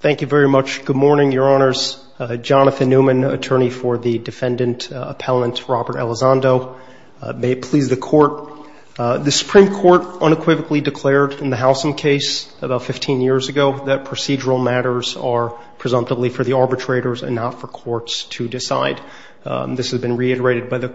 Thank you very much. Good morning, Your Honors. Jonathan Newman, Attorney for the Defendant Appellant Robert Elizondo. May it please the Court. The Supreme Court unequivocally declared in the Halson case about 15 years ago that procedural matters are presumptively for the arbitrators and not for courts to decide. This has been reiterated by the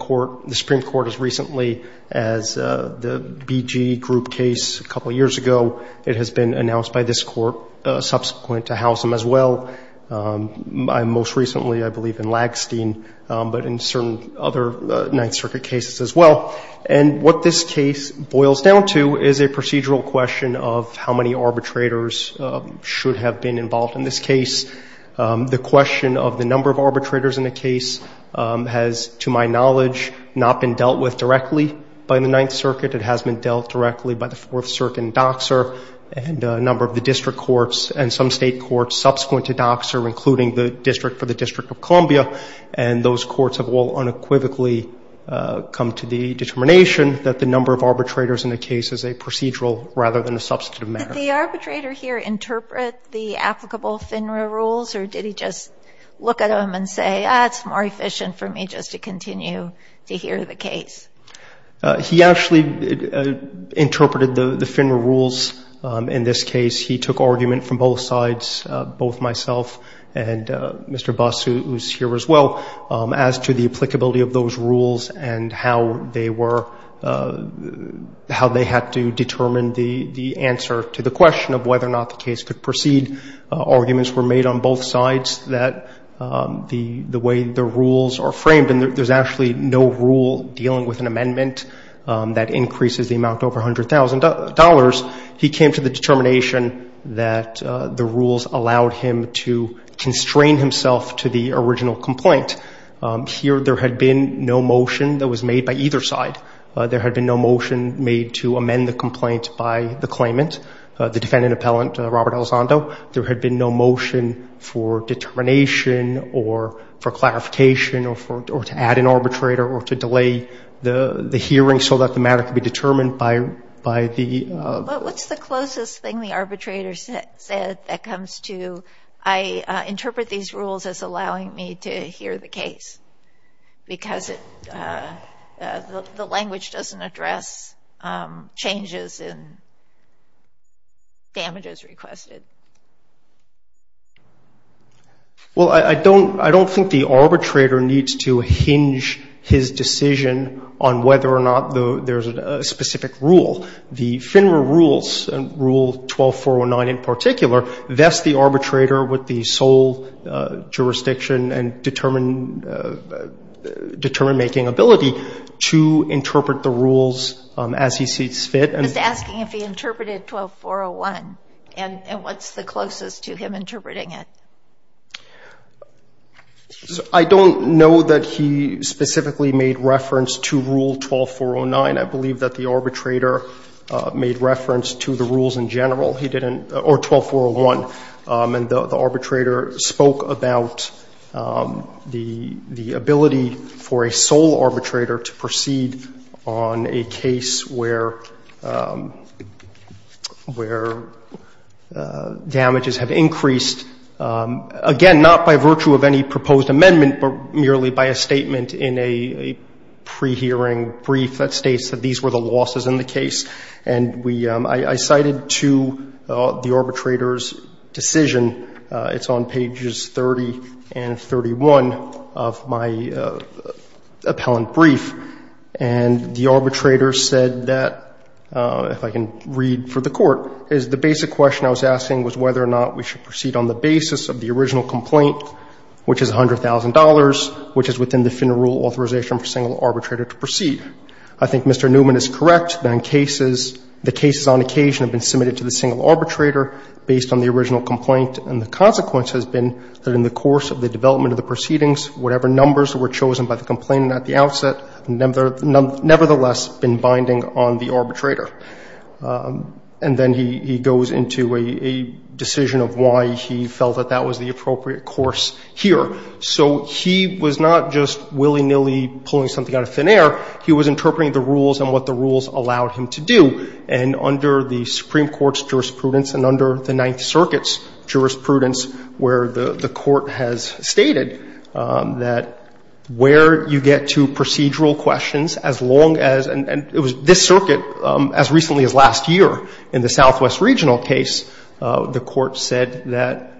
Supreme Court as recently as the BG Group case a couple years ago. It has been announced by this Court subsequent to Halson as well. Most recently, I believe, in Lagstein, but in certain other Ninth Circuit cases as well. And what this case boils down to is a procedural question of how many arbitrators should have been involved in this case. The question of the number of arbitrators in a case has, to my knowledge, not been dealt with directly by the Ninth Circuit. It has been dealt directly by the Fourth Circuit and Doxer and a number of the district courts and some State courts subsequent to Doxer, including the district for the District of Columbia, and those courts have all unequivocally come to the determination that the number of arbitrators in a case is a procedural rather than a substantive Sotomayor, did the arbitrator here interpret the applicable FINRA rules, or did he just look at them and say, ah, it's more efficient for me just to continue to hear the case? He actually interpreted the FINRA rules in this case. He took argument from both sides, both myself and Mr. Buss, who is here as well, as to the applicability of those rules and how they were, how they had to determine the answer to the question of whether or not the case could proceed. Arguments were made on both sides that the way the rules are framed, and there's actually no rule dealing with an amendment that increases the amount over $100,000. He came to the determination that the rules allowed him to constrain himself to the original complaint. Here there had been no motion that was made by either side. There had been no motion made to amend the complaint by the claimant, the defendant appellant, Robert Elizondo. There had been no motion for determination or for clarification or to add an arbitrator or to delay the hearing so that the matter could be determined by the But what's the closest thing the arbitrator said that comes to, I interpret these rules as allowing me to hear the case because the language doesn't address changes in damages requested. Well, I don't think the arbitrator needs to hinge his decision on whether or not there's a specific rule. The FINRA rules, Rule 12409 in particular, vest the arbitrator with the sole jurisdiction and determine-making ability to interpret the rules as he sees fit. He's asking if he interpreted 12401, and what's the closest to him interpreting it? I don't know that he specifically made reference to Rule 12409. I believe that the arbitrator made reference to the rules in general. He didn't or 12401. And the arbitrator spoke about the ability for a sole arbitrator to proceed on a case where damages have increased, again, not by virtue of any proposed amendment, but merely by a statement in a pre-hearing brief that states that these were the losses in the case. And I cited to the arbitrator's decision. It's on pages 30 and 31 of my appellant brief. And the arbitrator said that, if I can read for the Court, is the basic question I was asking was whether or not we should proceed on the basis of the original complaint, which is $100,000, which is within the FINRA rule authorization for a single arbitrator to proceed. I think Mr. Newman is correct that in cases, the cases on occasion have been submitted to the single arbitrator based on the original complaint. And the consequence has been that in the course of the development of the proceedings, whatever numbers were chosen by the complainant at the outset have nevertheless been binding on the arbitrator. And then he goes into a decision of why he felt that that was the appropriate course here. So he was not just willy-nilly pulling something out of thin air. He was interpreting the rules and what the rules allowed him to do. And under the Supreme Court's jurisprudence and under the Ninth Circuit's jurisprudence where the Court has stated that where you get to procedural questions as long as, and it was this circuit as recently as last year in the Southwest Regional case, the Court said that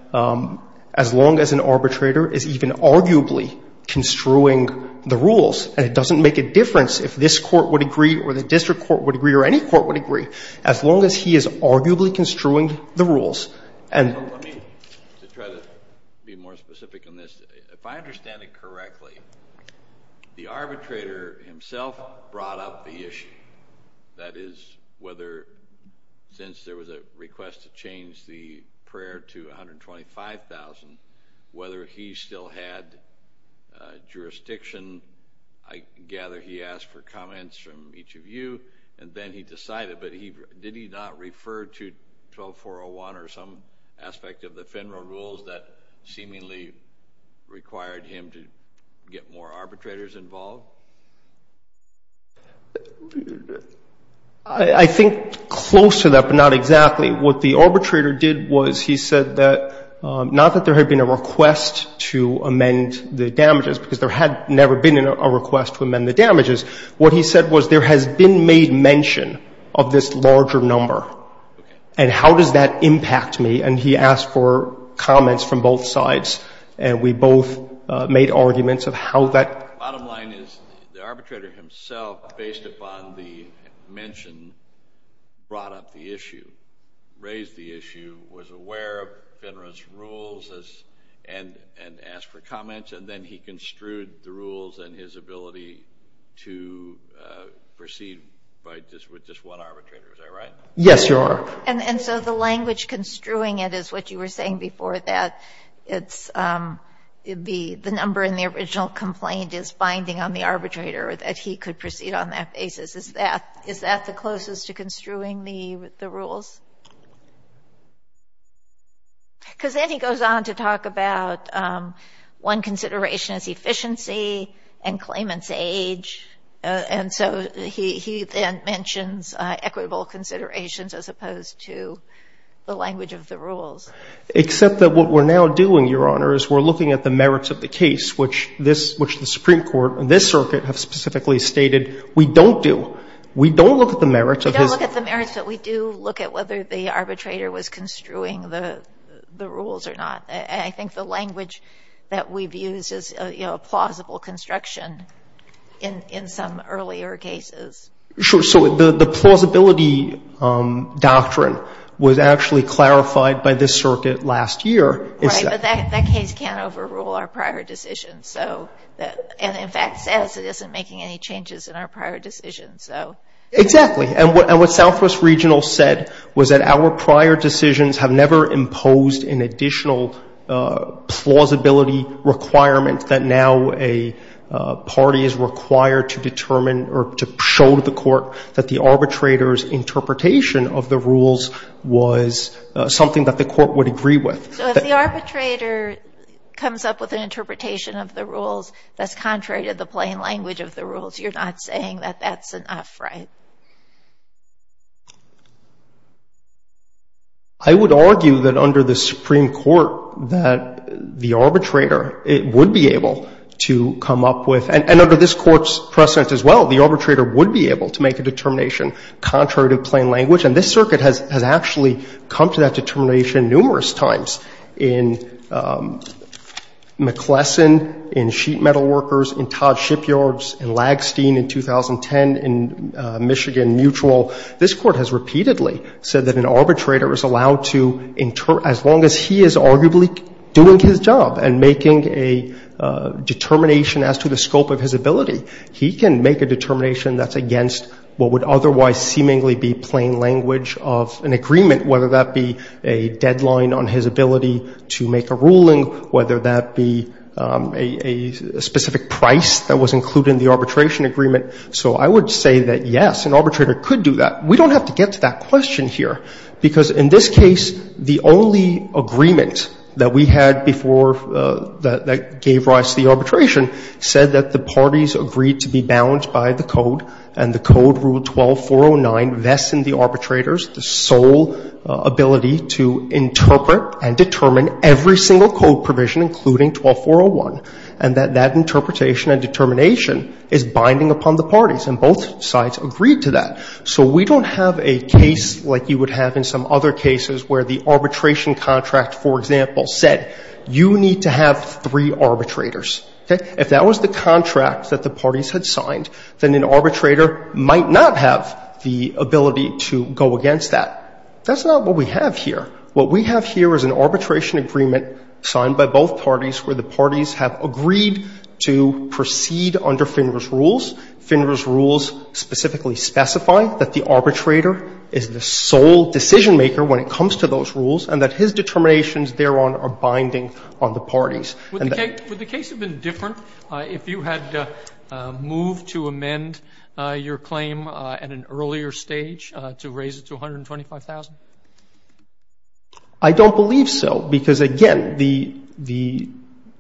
as long as an arbitrator is even arguably construing the rules and it doesn't make a difference if this court would agree or the district court would agree or any court would agree, as long as he is arguably construing the rules. Let me try to be more specific on this. If I understand it correctly, the arbitrator himself brought up the issue. That is whether since there was a request to change the prayer to $125,000, whether he still had jurisdiction. I gather he asked for comments from each of you, and then he decided. But did he not refer to 12401 or some aspect of the FINRA rules that seemingly required him to get more arbitrators involved? I think close to that, but not exactly. What the arbitrator did was he said that not that there had been a request to amend the damages, because there had never been a request to amend the damages. What he said was there has been made mention of this larger number, and how does that impact me? And he asked for comments from both sides, and we both made arguments of how that Bottom line is the arbitrator himself, based upon the mention, brought up the issue, raised the issue, was aware of FINRA's rules and asked for comments, and then he construed the rules and his ability to proceed with just one arbitrator. Is that right? Yes, Your Honor. And so the language construing it is what you were saying before, that the number in the original complaint is binding on the arbitrator, that he could proceed on that basis. Is that the closest to construing the rules? Because then he goes on to talk about one consideration is efficiency and claimant's age, and so he then mentions equitable considerations as opposed to the language of the rules. Except that what we're now doing, Your Honor, is we're looking at the merits of the case, which this, which the Supreme Court and this circuit have specifically stated we don't do. We don't look at the merits of his case. We don't look at the merits, but we do look at whether the arbitrator was construing the rules or not. And I think the language that we've used is, you know, plausible construction in some earlier cases. Sure. So the plausibility doctrine was actually clarified by this circuit last year. Right. But that case can't overrule our prior decision. So. Exactly. And what Southwest Regional said was that our prior decisions have never imposed an additional plausibility requirement that now a party is required to determine or to show the court that the arbitrator's interpretation of the rules was something that the court would agree with. So if the arbitrator comes up with an interpretation of the rules that's contrary to the plain language of the rules, you're not saying that that's enough, right? I would argue that under the Supreme Court that the arbitrator would be able to come up with, and under this Court's precedent as well, the arbitrator would be able to make a determination contrary to plain language. And this circuit has actually come to that determination numerous times in McClellan, in Jackson, in Sheet Metal Workers, in Todd Shipyards, in Lagstein in 2010, in Michigan Mutual. This Court has repeatedly said that an arbitrator is allowed to, as long as he is arguably doing his job and making a determination as to the scope of his ability, he can make a determination that's against what would otherwise seemingly be plain language of an agreement, whether that be a deadline on his ability to make a ruling, whether that be a specific price that was included in the arbitration agreement. So I would say that, yes, an arbitrator could do that. We don't have to get to that question here, because in this case, the only agreement that we had before that gave rise to the arbitration said that the parties agreed to be bound by the code, and the code, Rule 12409, vests in the arbitrators the sole ability to interpret and determine every single code provision, including 12401, and that that interpretation and determination is binding upon the parties. And both sides agreed to that. So we don't have a case like you would have in some other cases where the arbitration contract, for example, said you need to have three arbitrators. Okay? If that was the contract that the parties had signed, then an arbitrator might not have the ability to go against that. That's not what we have here. What we have here is an arbitration agreement signed by both parties where the parties have agreed to proceed under Finner's rules. Finner's rules specifically specify that the arbitrator is the sole decision-maker when it comes to those rules, and that his determinations thereon are binding on the parties. Would the case have been different if you had moved to amend your claim at an earlier stage to raise it to $125,000? I don't believe so, because, again, the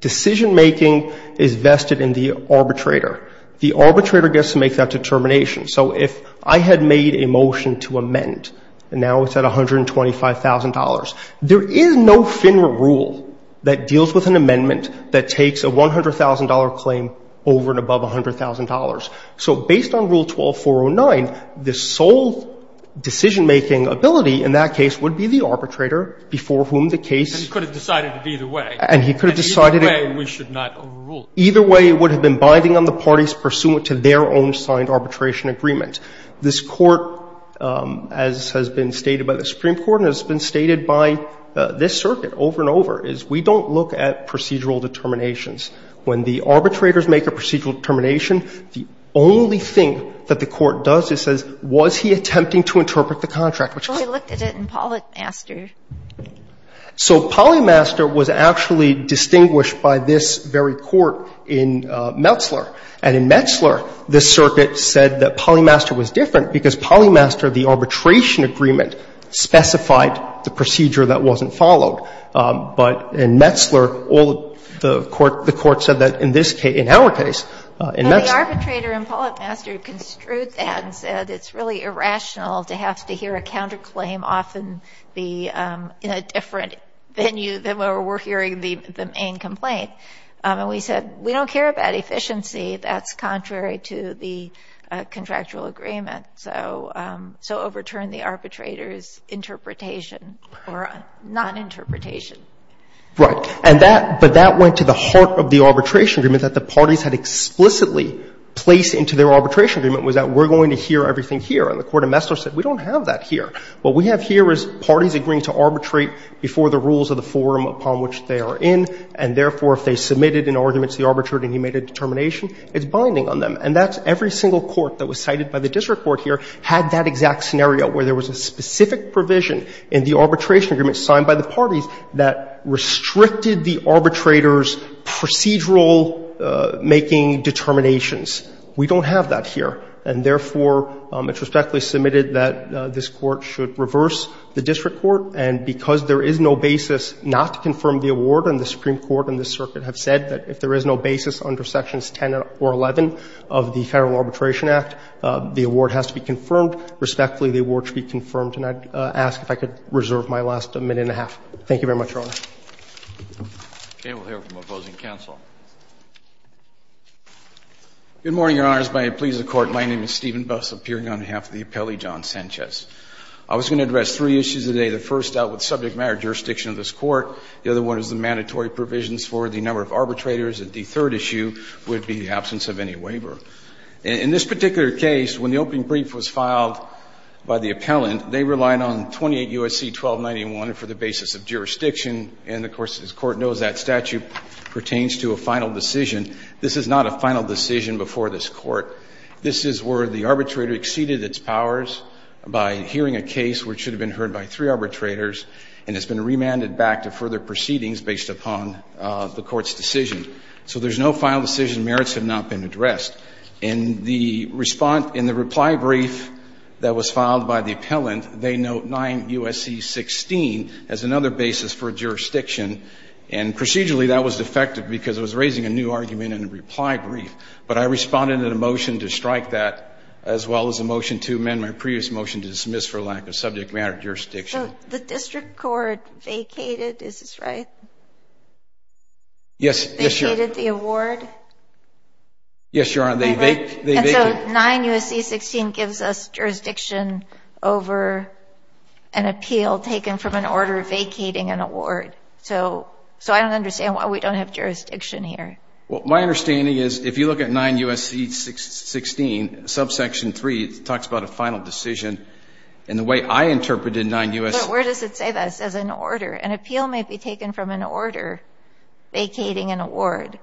decision-making is vested in the arbitrator. The arbitrator gets to make that determination. So if I had made a motion to amend, and now it's at $125,000, there is no Finner rule that deals with an amendment that takes a $100,000 claim over and above $100,000. So based on Rule 12-409, the sole decision-making ability in that case would be the arbitrator before whom the case ---- And he could have decided it either way. And he could have decided it ---- Either way, we should not overrule. Either way, it would have been binding on the parties pursuant to their own signed arbitration agreement. This Court, as has been stated by the Supreme Court and has been stated by this Circuit over and over, is we don't look at procedural determinations. When the arbitrators make a procedural determination, the only thing that the Court does is says, was he attempting to interpret the contract, which ---- Well, he looked at it in Polymaster. So Polymaster was actually distinguished by this very Court in Metzler. And in Metzler, the Circuit said that Polymaster was different because Polymaster, the arbitration agreement, specified the procedure that wasn't followed. But in Metzler, all the Court ---- the Court said that in this case, in our case, in Metzler ---- But the arbitrator in Polymaster construed that and said it's really irrational to have to hear a counterclaim often be in a different venue than where we're hearing the main complaint. And we said, we don't care about efficiency. That's contrary to the contractual agreement. So overturn the arbitrator's interpretation or noninterpretation. Right. And that ---- but that went to the heart of the arbitration agreement that the parties had explicitly placed into their arbitration agreement, was that we're going to hear everything here. And the Court in Metzler said, we don't have that here. What we have here is parties agreeing to arbitrate before the rules of the forum upon which they are in, and therefore, if they submitted an argument to the arbitrator and he made a determination, it's binding on them. And that's every single court that was cited by the district court here had that exact scenario where there was a specific provision in the arbitration agreement signed by the parties that restricted the arbitrator's procedural making determinations. We don't have that here. And therefore, it's respectfully submitted that this Court should reverse the district court, and because there is no basis not to confirm the award, and the Supreme Court has 10 or 11 of the Federal Arbitration Act, the award has to be confirmed. Respectfully, the award should be confirmed. And I'd ask if I could reserve my last minute and a half. Thank you very much, Your Honor. Okay. We'll hear from opposing counsel. Good morning, Your Honors. May it please the Court. My name is Stephen Buss, appearing on behalf of the appellee, John Sanchez. I was going to address three issues today, the first out with subject matter jurisdiction of this Court. The other one is the mandatory provisions for the number of arbitrators. And the third issue would be the absence of any waiver. In this particular case, when the opening brief was filed by the appellant, they relied on 28 U.S.C. 1291 for the basis of jurisdiction. And, of course, this Court knows that statute pertains to a final decision. This is not a final decision before this Court. This is where the arbitrator exceeded its powers by hearing a case which should have been heard by three arbitrators, and it's been remanded back to further proceedings based upon the Court's decision. So there's no final decision. Merits have not been addressed. In the reply brief that was filed by the appellant, they note 9 U.S.C. 16 as another basis for jurisdiction. And procedurally, that was defective because it was raising a new argument in the reply brief. But I responded in a motion to strike that, as well as a motion to amend my previous motion to dismiss for lack of subject matter jurisdiction. So the district court vacated. Is this right? Yes, Your Honor. Vacated the award? Yes, Your Honor. They vacated. And so 9 U.S.C. 16 gives us jurisdiction over an appeal taken from an order vacating an award. So I don't understand why we don't have jurisdiction here. Well, my understanding is if you look at 9 U.S.C. 16, subsection 3, it talks about a final decision. And the way I interpreted 9 U.S.C. But where does it say that? It says an order. An appeal may be taken from an order vacating an award,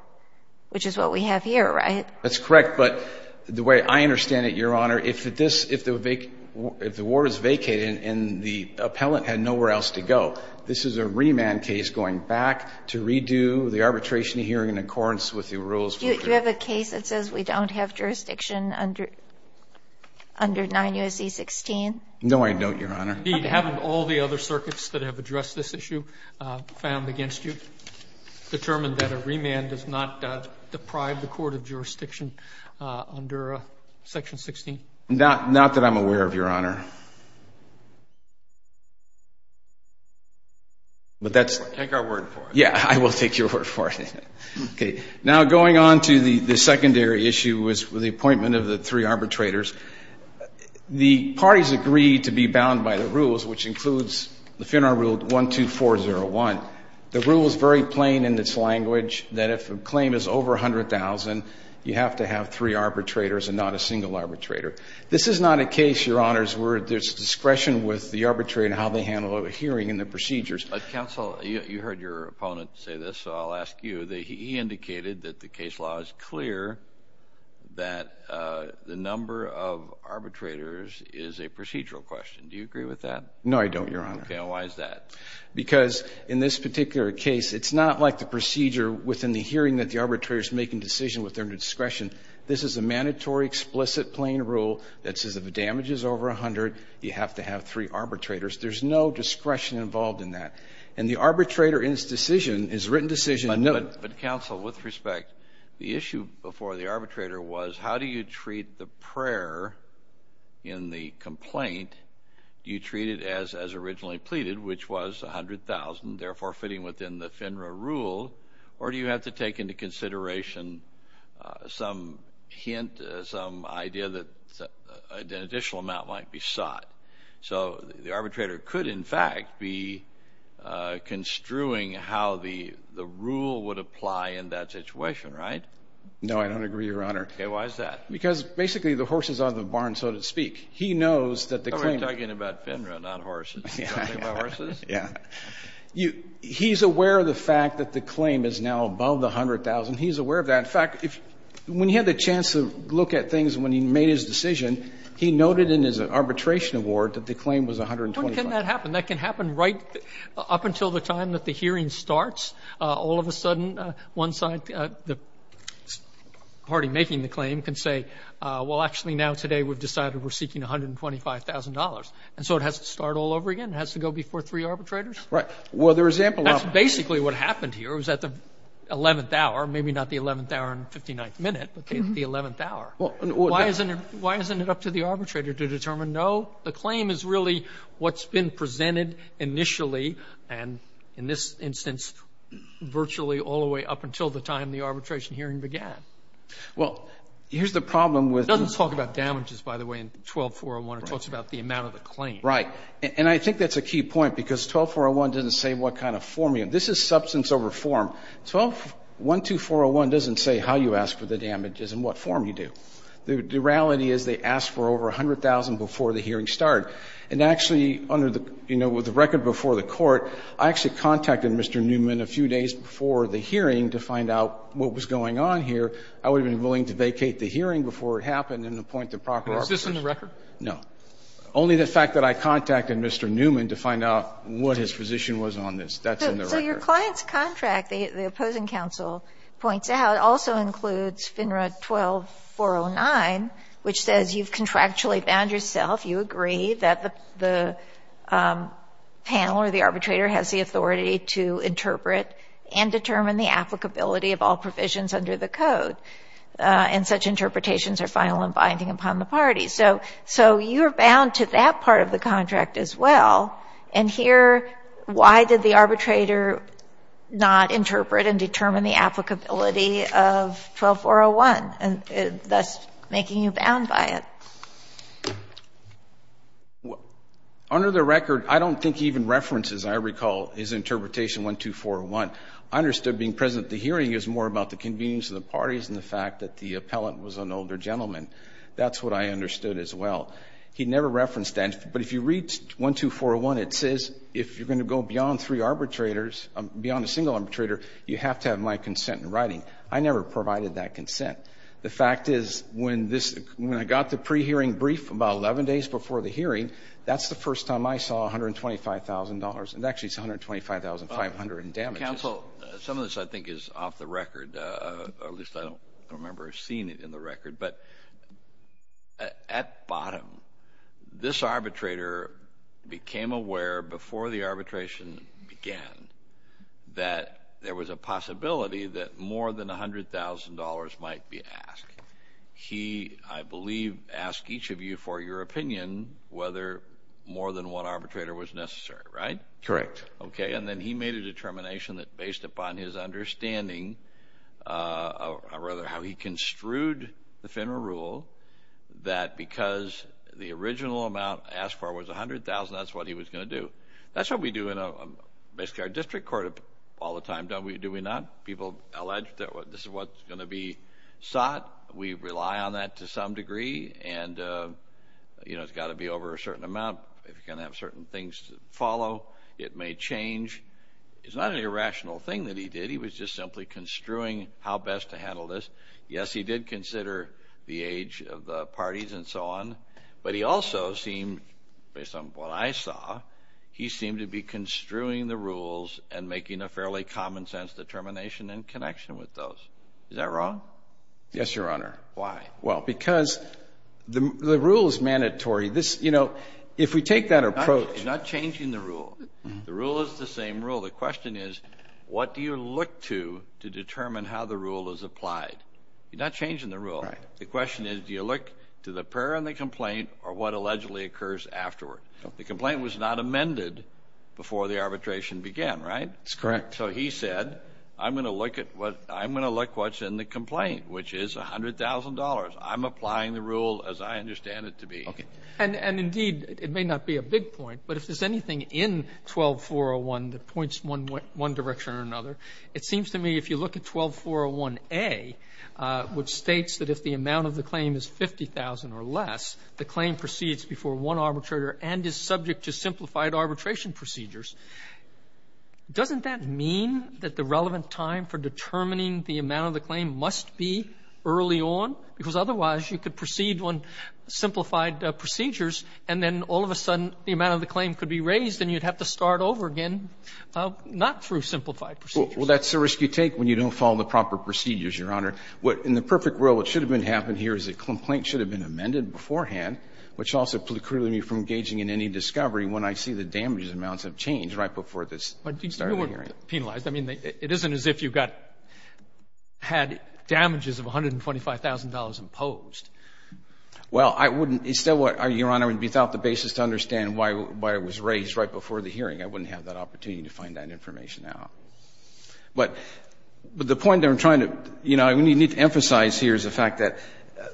which is what we have here, right? That's correct. But the way I understand it, Your Honor, if the award is vacated and the appellant had nowhere else to go, this is a remand case going back to redo the arbitration hearing in accordance with the rules. Do you have a case that says we don't have jurisdiction under 9 U.S.C. 16? No, I don't, Your Honor. Have all the other circuits that have addressed this issue found against you determined that a remand does not deprive the court of jurisdiction under section 16? Not that I'm aware of, Your Honor. Take our word for it. Yeah, I will take your word for it. Now, going on to the secondary issue with the appointment of the three rules, which includes the FINRA rule 12401, the rule is very plain in its language that if a claim is over $100,000, you have to have three arbitrators and not a single arbitrator. This is not a case, Your Honor, where there's discretion with the arbitrator in how they handle a hearing and the procedures. Counsel, you heard your opponent say this, so I'll ask you. He indicated that the case law is clear that the number of arbitrators is a procedural question. Do you agree with that? No, I don't, Your Honor. Okay, and why is that? Because in this particular case, it's not like the procedure within the hearing that the arbitrator is making decision with their discretion. This is a mandatory explicit plain rule that says if a damage is over $100,000, you have to have three arbitrators. There's no discretion involved in that. And the arbitrator in this decision is a written decision. But, Counsel, with respect, the issue before the arbitrator was how do you treat the prayer in the complaint you treated as originally pleaded, which was $100,000, therefore fitting within the FINRA rule, or do you have to take into consideration some hint, some idea that an additional amount might be sought? So the arbitrator could, in fact, be construing how the rule would apply in that situation, right? No, I don't agree, Your Honor. Okay, why is that? Because basically the horse is out of the barn, so to speak. He knows that the claim is You're talking about FINRA, not horses. You're talking about horses? Yeah. He's aware of the fact that the claim is now above the $100,000. He's aware of that. In fact, when he had the chance to look at things when he made his decision, he noted in his arbitration award that the claim was $120,000. When can that happen? That can happen right up until the time that the hearing starts. All of a sudden, one side, the party making the claim, can say, well, actually now today we've decided we're seeking $125,000. And so it has to start all over again? It has to go before three arbitrators? Right. Well, there is ample opportunity. That's basically what happened here. It was at the 11th hour, maybe not the 11th hour and 59th minute, but the 11th hour. Why isn't it up to the arbitrator to determine, no, the claim is really what's been presented initially and, in this instance, virtually all the way up until the time the arbitration hearing began? Well, here's the problem with 12401. It doesn't talk about damages, by the way, in 12401. It talks about the amount of the claim. Right. And I think that's a key point, because 12401 doesn't say what kind of form you have. This is substance over form. 12401 doesn't say how you ask for the damages and what form you do. The reality is they ask for over $100,000 before the hearing started. And actually, under the record before the Court, I actually contacted Mr. Newman a few days before the hearing to find out what was going on here. I would have been willing to vacate the hearing before it happened and appoint the proper arbitrator. But is this in the record? No. Only the fact that I contacted Mr. Newman to find out what his position was on this, that's in the record. So your client's contract, the opposing counsel points out, also includes FINRA 12409, which says you've contractually found yourself, you agree that the panel or the arbitrator has the authority to interpret and determine the applicability of all provisions under the Code. And such interpretations are final and binding upon the parties. So you're bound to that part of the contract as well. And here, why did the arbitrator not interpret and determine the applicability of 12401, thus making you bound by it? Under the record, I don't think even references, I recall, is interpretation 12401. I understood being present at the hearing is more about the convenience of the parties and the fact that the appellant was an older gentleman. That's what I understood as well. He never referenced that. But if you read 12401, it says if you're going to go beyond three arbitrators, beyond a single arbitrator, you have to have my consent in writing. I never provided that consent. The fact is when I got the pre-hearing brief about 11 days before the hearing, that's the first time I saw $125,000, and actually it's $125,500 in damages. Counsel, some of this I think is off the record. At least I don't remember seeing it in the record. But at bottom, this arbitrator became aware before the arbitration began that there was a possibility that more than $100,000 might be asked. He, I believe, asked each of you for your opinion whether more than one arbitrator was necessary, right? Correct. Okay. And then he made a determination that based upon his understanding, or rather how he construed the FINRA rule, that because the original amount asked for was $100,000, that's what he was going to do. That's what we do in basically our district court all the time, don't we? Do we not? People allege that this is what's going to be sought. We rely on that to some degree. And, you know, it's got to be over a certain amount. If you're going to have certain things to follow, it may change. It's not an irrational thing that he did. He was just simply construing how best to handle this. Yes, he did consider the age of the parties and so on. But he also seemed, based on what I saw, he seemed to be construing the rules and making a fairly common sense determination in connection with those. Is that wrong? Yes, Your Honor. Why? Well, because the rule is mandatory. You know, if we take that approach. He's not changing the rule. The rule is the same rule. The question is, what do you look to to determine how the rule is applied? You're not changing the rule. The question is, do you look to the pair in the complaint or what allegedly occurs afterward? The complaint was not amended before the arbitration began, right? That's correct. So he said, I'm going to look at what's in the complaint, which is $100,000. I'm applying the rule as I understand it to be. Okay. And indeed, it may not be a big point, but if there's anything in 12401 that points one direction or another, it seems to me if you look at 12401A, which states that if the amount of the claim is $50,000 or less, the claim proceeds before one arbitrator and is subject to simplified arbitration procedures, doesn't that mean that the relevant time for determining the amount of the claim must be early on? Because otherwise, you could proceed on simplified procedures, and then all of a sudden the amount of the claim could be raised, and you'd have to start over again, not through simplified procedures. Well, that's the risk you take when you don't follow the proper procedures, Your Honor. In the perfect world, what should have happened here is the complaint should have been amended beforehand, which also precluded me from engaging in any discovery when I see the damages amounts have changed right before this started occurring. But do you know what penalized? I mean, it isn't as if you had damages of $125,000 imposed. Well, I wouldn't. Your Honor, without the basis to understand why it was raised right before the hearing, I wouldn't have that opportunity to find that information out. But the point that I'm trying to emphasize here is the fact that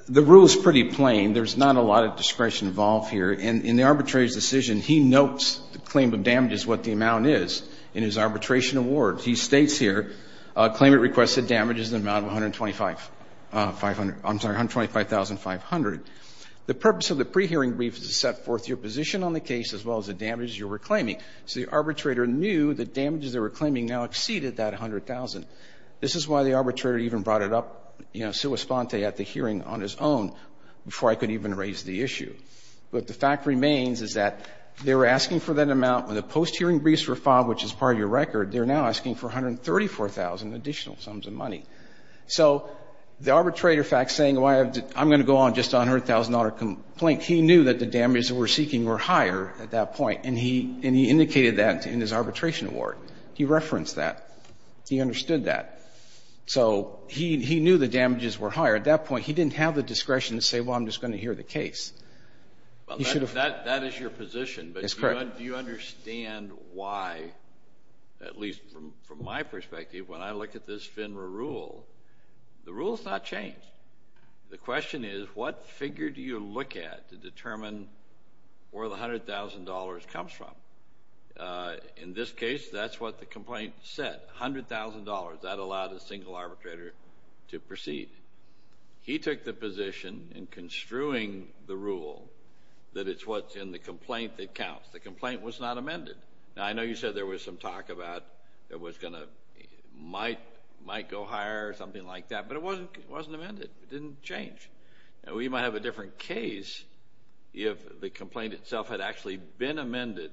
the rule is pretty plain. There's not a lot of discretion involved here. In the arbitrator's decision, he notes the claim of damages, what the amount is, in his arbitration award. He states here, claimant requested damages in the amount of $125,500. The purpose of the pre-hearing brief is to set forth your position on the case as well as the damages you were claiming. So the arbitrator knew the damages they were claiming now exceeded that $100,000. This is why the arbitrator even brought it up, you know, sua sponte at the hearing on his own before I could even raise the issue. But the fact remains is that they were asking for that amount when the post-hearing briefs were filed, which is part of your record. They're now asking for $134,000 additional sums of money. So the arbitrator, in fact, saying I'm going to go on just on her $1,000 complaint, he knew that the damages they were seeking were higher at that point, and he indicated that in his arbitration award. He referenced that. He understood that. So he knew the damages were higher. At that point, he didn't have the discretion to say, well, I'm just going to hear the case. Well, that is your position. That's correct. But do you understand why, at least from my perspective, when I look at this FINRA rule, the rule has not changed. The question is what figure do you look at to determine where the $100,000 comes from? In this case, that's what the complaint said, $100,000. That allowed a single arbitrator to proceed. He took the position in construing the rule that it's what's in the complaint that counts. The complaint was not amended. Now, I know you said there was some talk about it might go higher or something like that, but it wasn't amended. It didn't change. We might have a different case if the complaint itself had actually been amended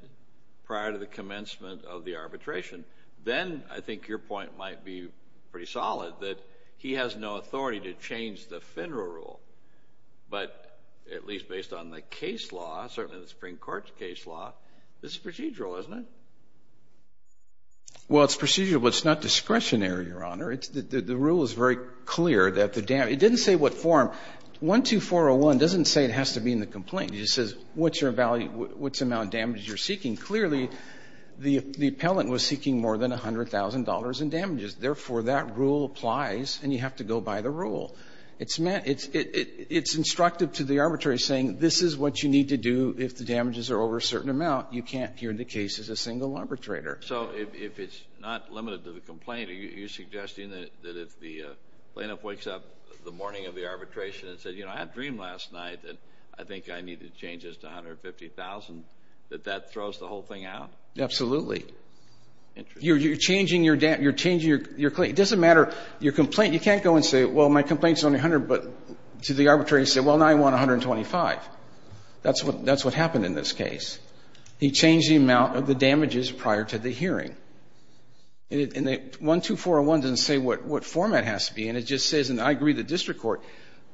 prior to the commencement of the arbitration. Then I think your point might be pretty solid that he has no authority to change the FINRA rule. But at least based on the case law, certainly the Supreme Court's case law, this is procedural, isn't it? Well, it's procedural, but it's not discretionary, Your Honor. The rule is very clear that the damage – it didn't say what form. 12401 doesn't say it has to be in the complaint. It just says what's your value, what's the amount of damage you're seeking. Clearly, the appellant was seeking more than $100,000 in damages. Therefore, that rule applies, and you have to go by the rule. It's instructive to the arbitrator saying this is what you need to do if the damages are over a certain amount. You can't here in the case as a single arbitrator. So if it's not limited to the complaint, are you suggesting that if the plaintiff wakes up the morning of the arbitration and says, you know, I had a dream last night that I think I need to change this to $150,000, that that throws the whole thing out? Absolutely. You're changing your claim. It doesn't matter. Your complaint, you can't go and say, well, my complaint's only $100,000, but to the arbitrator, you say, well, now I want $125,000. That's what happened in this case. He changed the amount of the damages prior to the hearing. And 12401 doesn't say what format it has to be in. It just says, and I agree with the district court,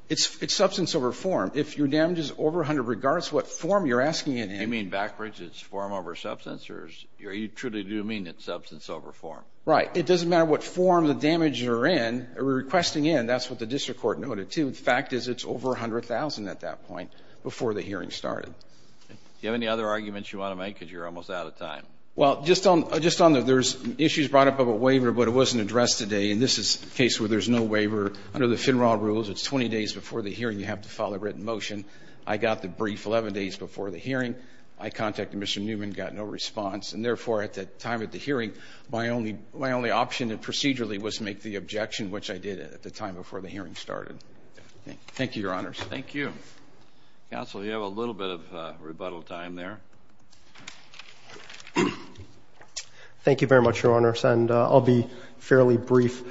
it's substance over form. If your damage is over 100 regards what form you're asking it in. You mean backwards? It's form over substance? Or you truly do mean it's substance over form? Right. It doesn't matter what form the damages are in or requesting in. That's what the district court noted, too. The fact is it's over $100,000 at that point before the hearing started. Do you have any other arguments you want to make? Because you're almost out of time. Well, just on there's issues brought up of a waiver, but it wasn't addressed today. And this is a case where there's no waiver. Under the FINRA rules, it's 20 days before the hearing you have to file a written motion. I got the brief 11 days before the hearing. I contacted Mr. Newman, got no response. And, therefore, at the time of the hearing, my only option procedurally was to make the objection, which I did at the time before the hearing started. Thank you, Your Honors. Thank you. Counsel, you have a little bit of rebuttal time there. Thank you very much, Your Honors. And I'll be fairly brief.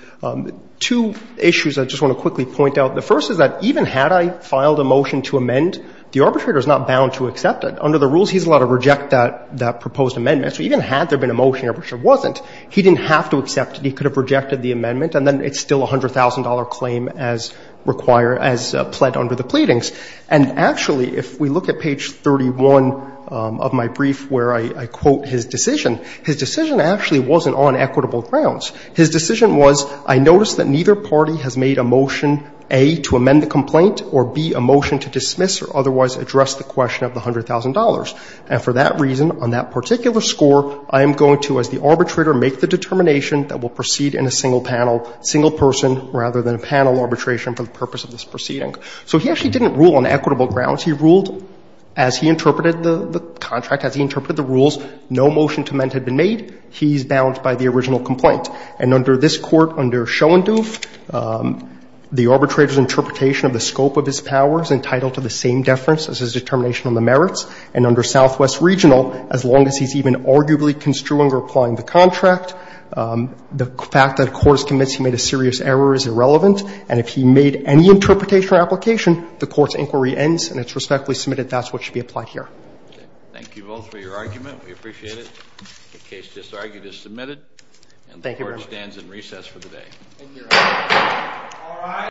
Two issues I just want to quickly point out. The first is that even had I filed a motion to amend, the arbitrator is not bound to accept it. Under the rules, he's allowed to reject that proposed amendment. So even had there been a motion, which there wasn't, he didn't have to accept it. He could have rejected the amendment, and then it's still a $100,000 claim as required as pled under the pleadings. And, actually, if we look at page 31 of my brief where I quote his decision, his decision actually wasn't on equitable grounds. His decision was, I notice that neither party has made a motion, A, to amend the complaint, or, B, a motion to dismiss or otherwise address the question of the $100,000. And for that reason, on that particular score, I am going to, as the arbitrator, make the determination that we'll proceed in a single panel, single person rather than a panel arbitration for the purpose of this proceeding. So he actually didn't rule on equitable grounds. He ruled, as he interpreted the contract, as he interpreted the rules, no motion to amend had been made. He's bound by the original complaint. And under this Court, under Schoenduf, the arbitrator's interpretation of the scope of his powers entitled to the same deference as his determination on the merits, and under Southwest Regional, as long as he's even arguably construing or applying the contract, the fact that a court is convinced he made a serious error is irrelevant. And if he made any interpretation or application, the Court's inquiry ends and it's respectfully submitted that's what should be applied here. Thank you both for your argument. We appreciate it. The case just argued is submitted. And the Court stands in recess for the day.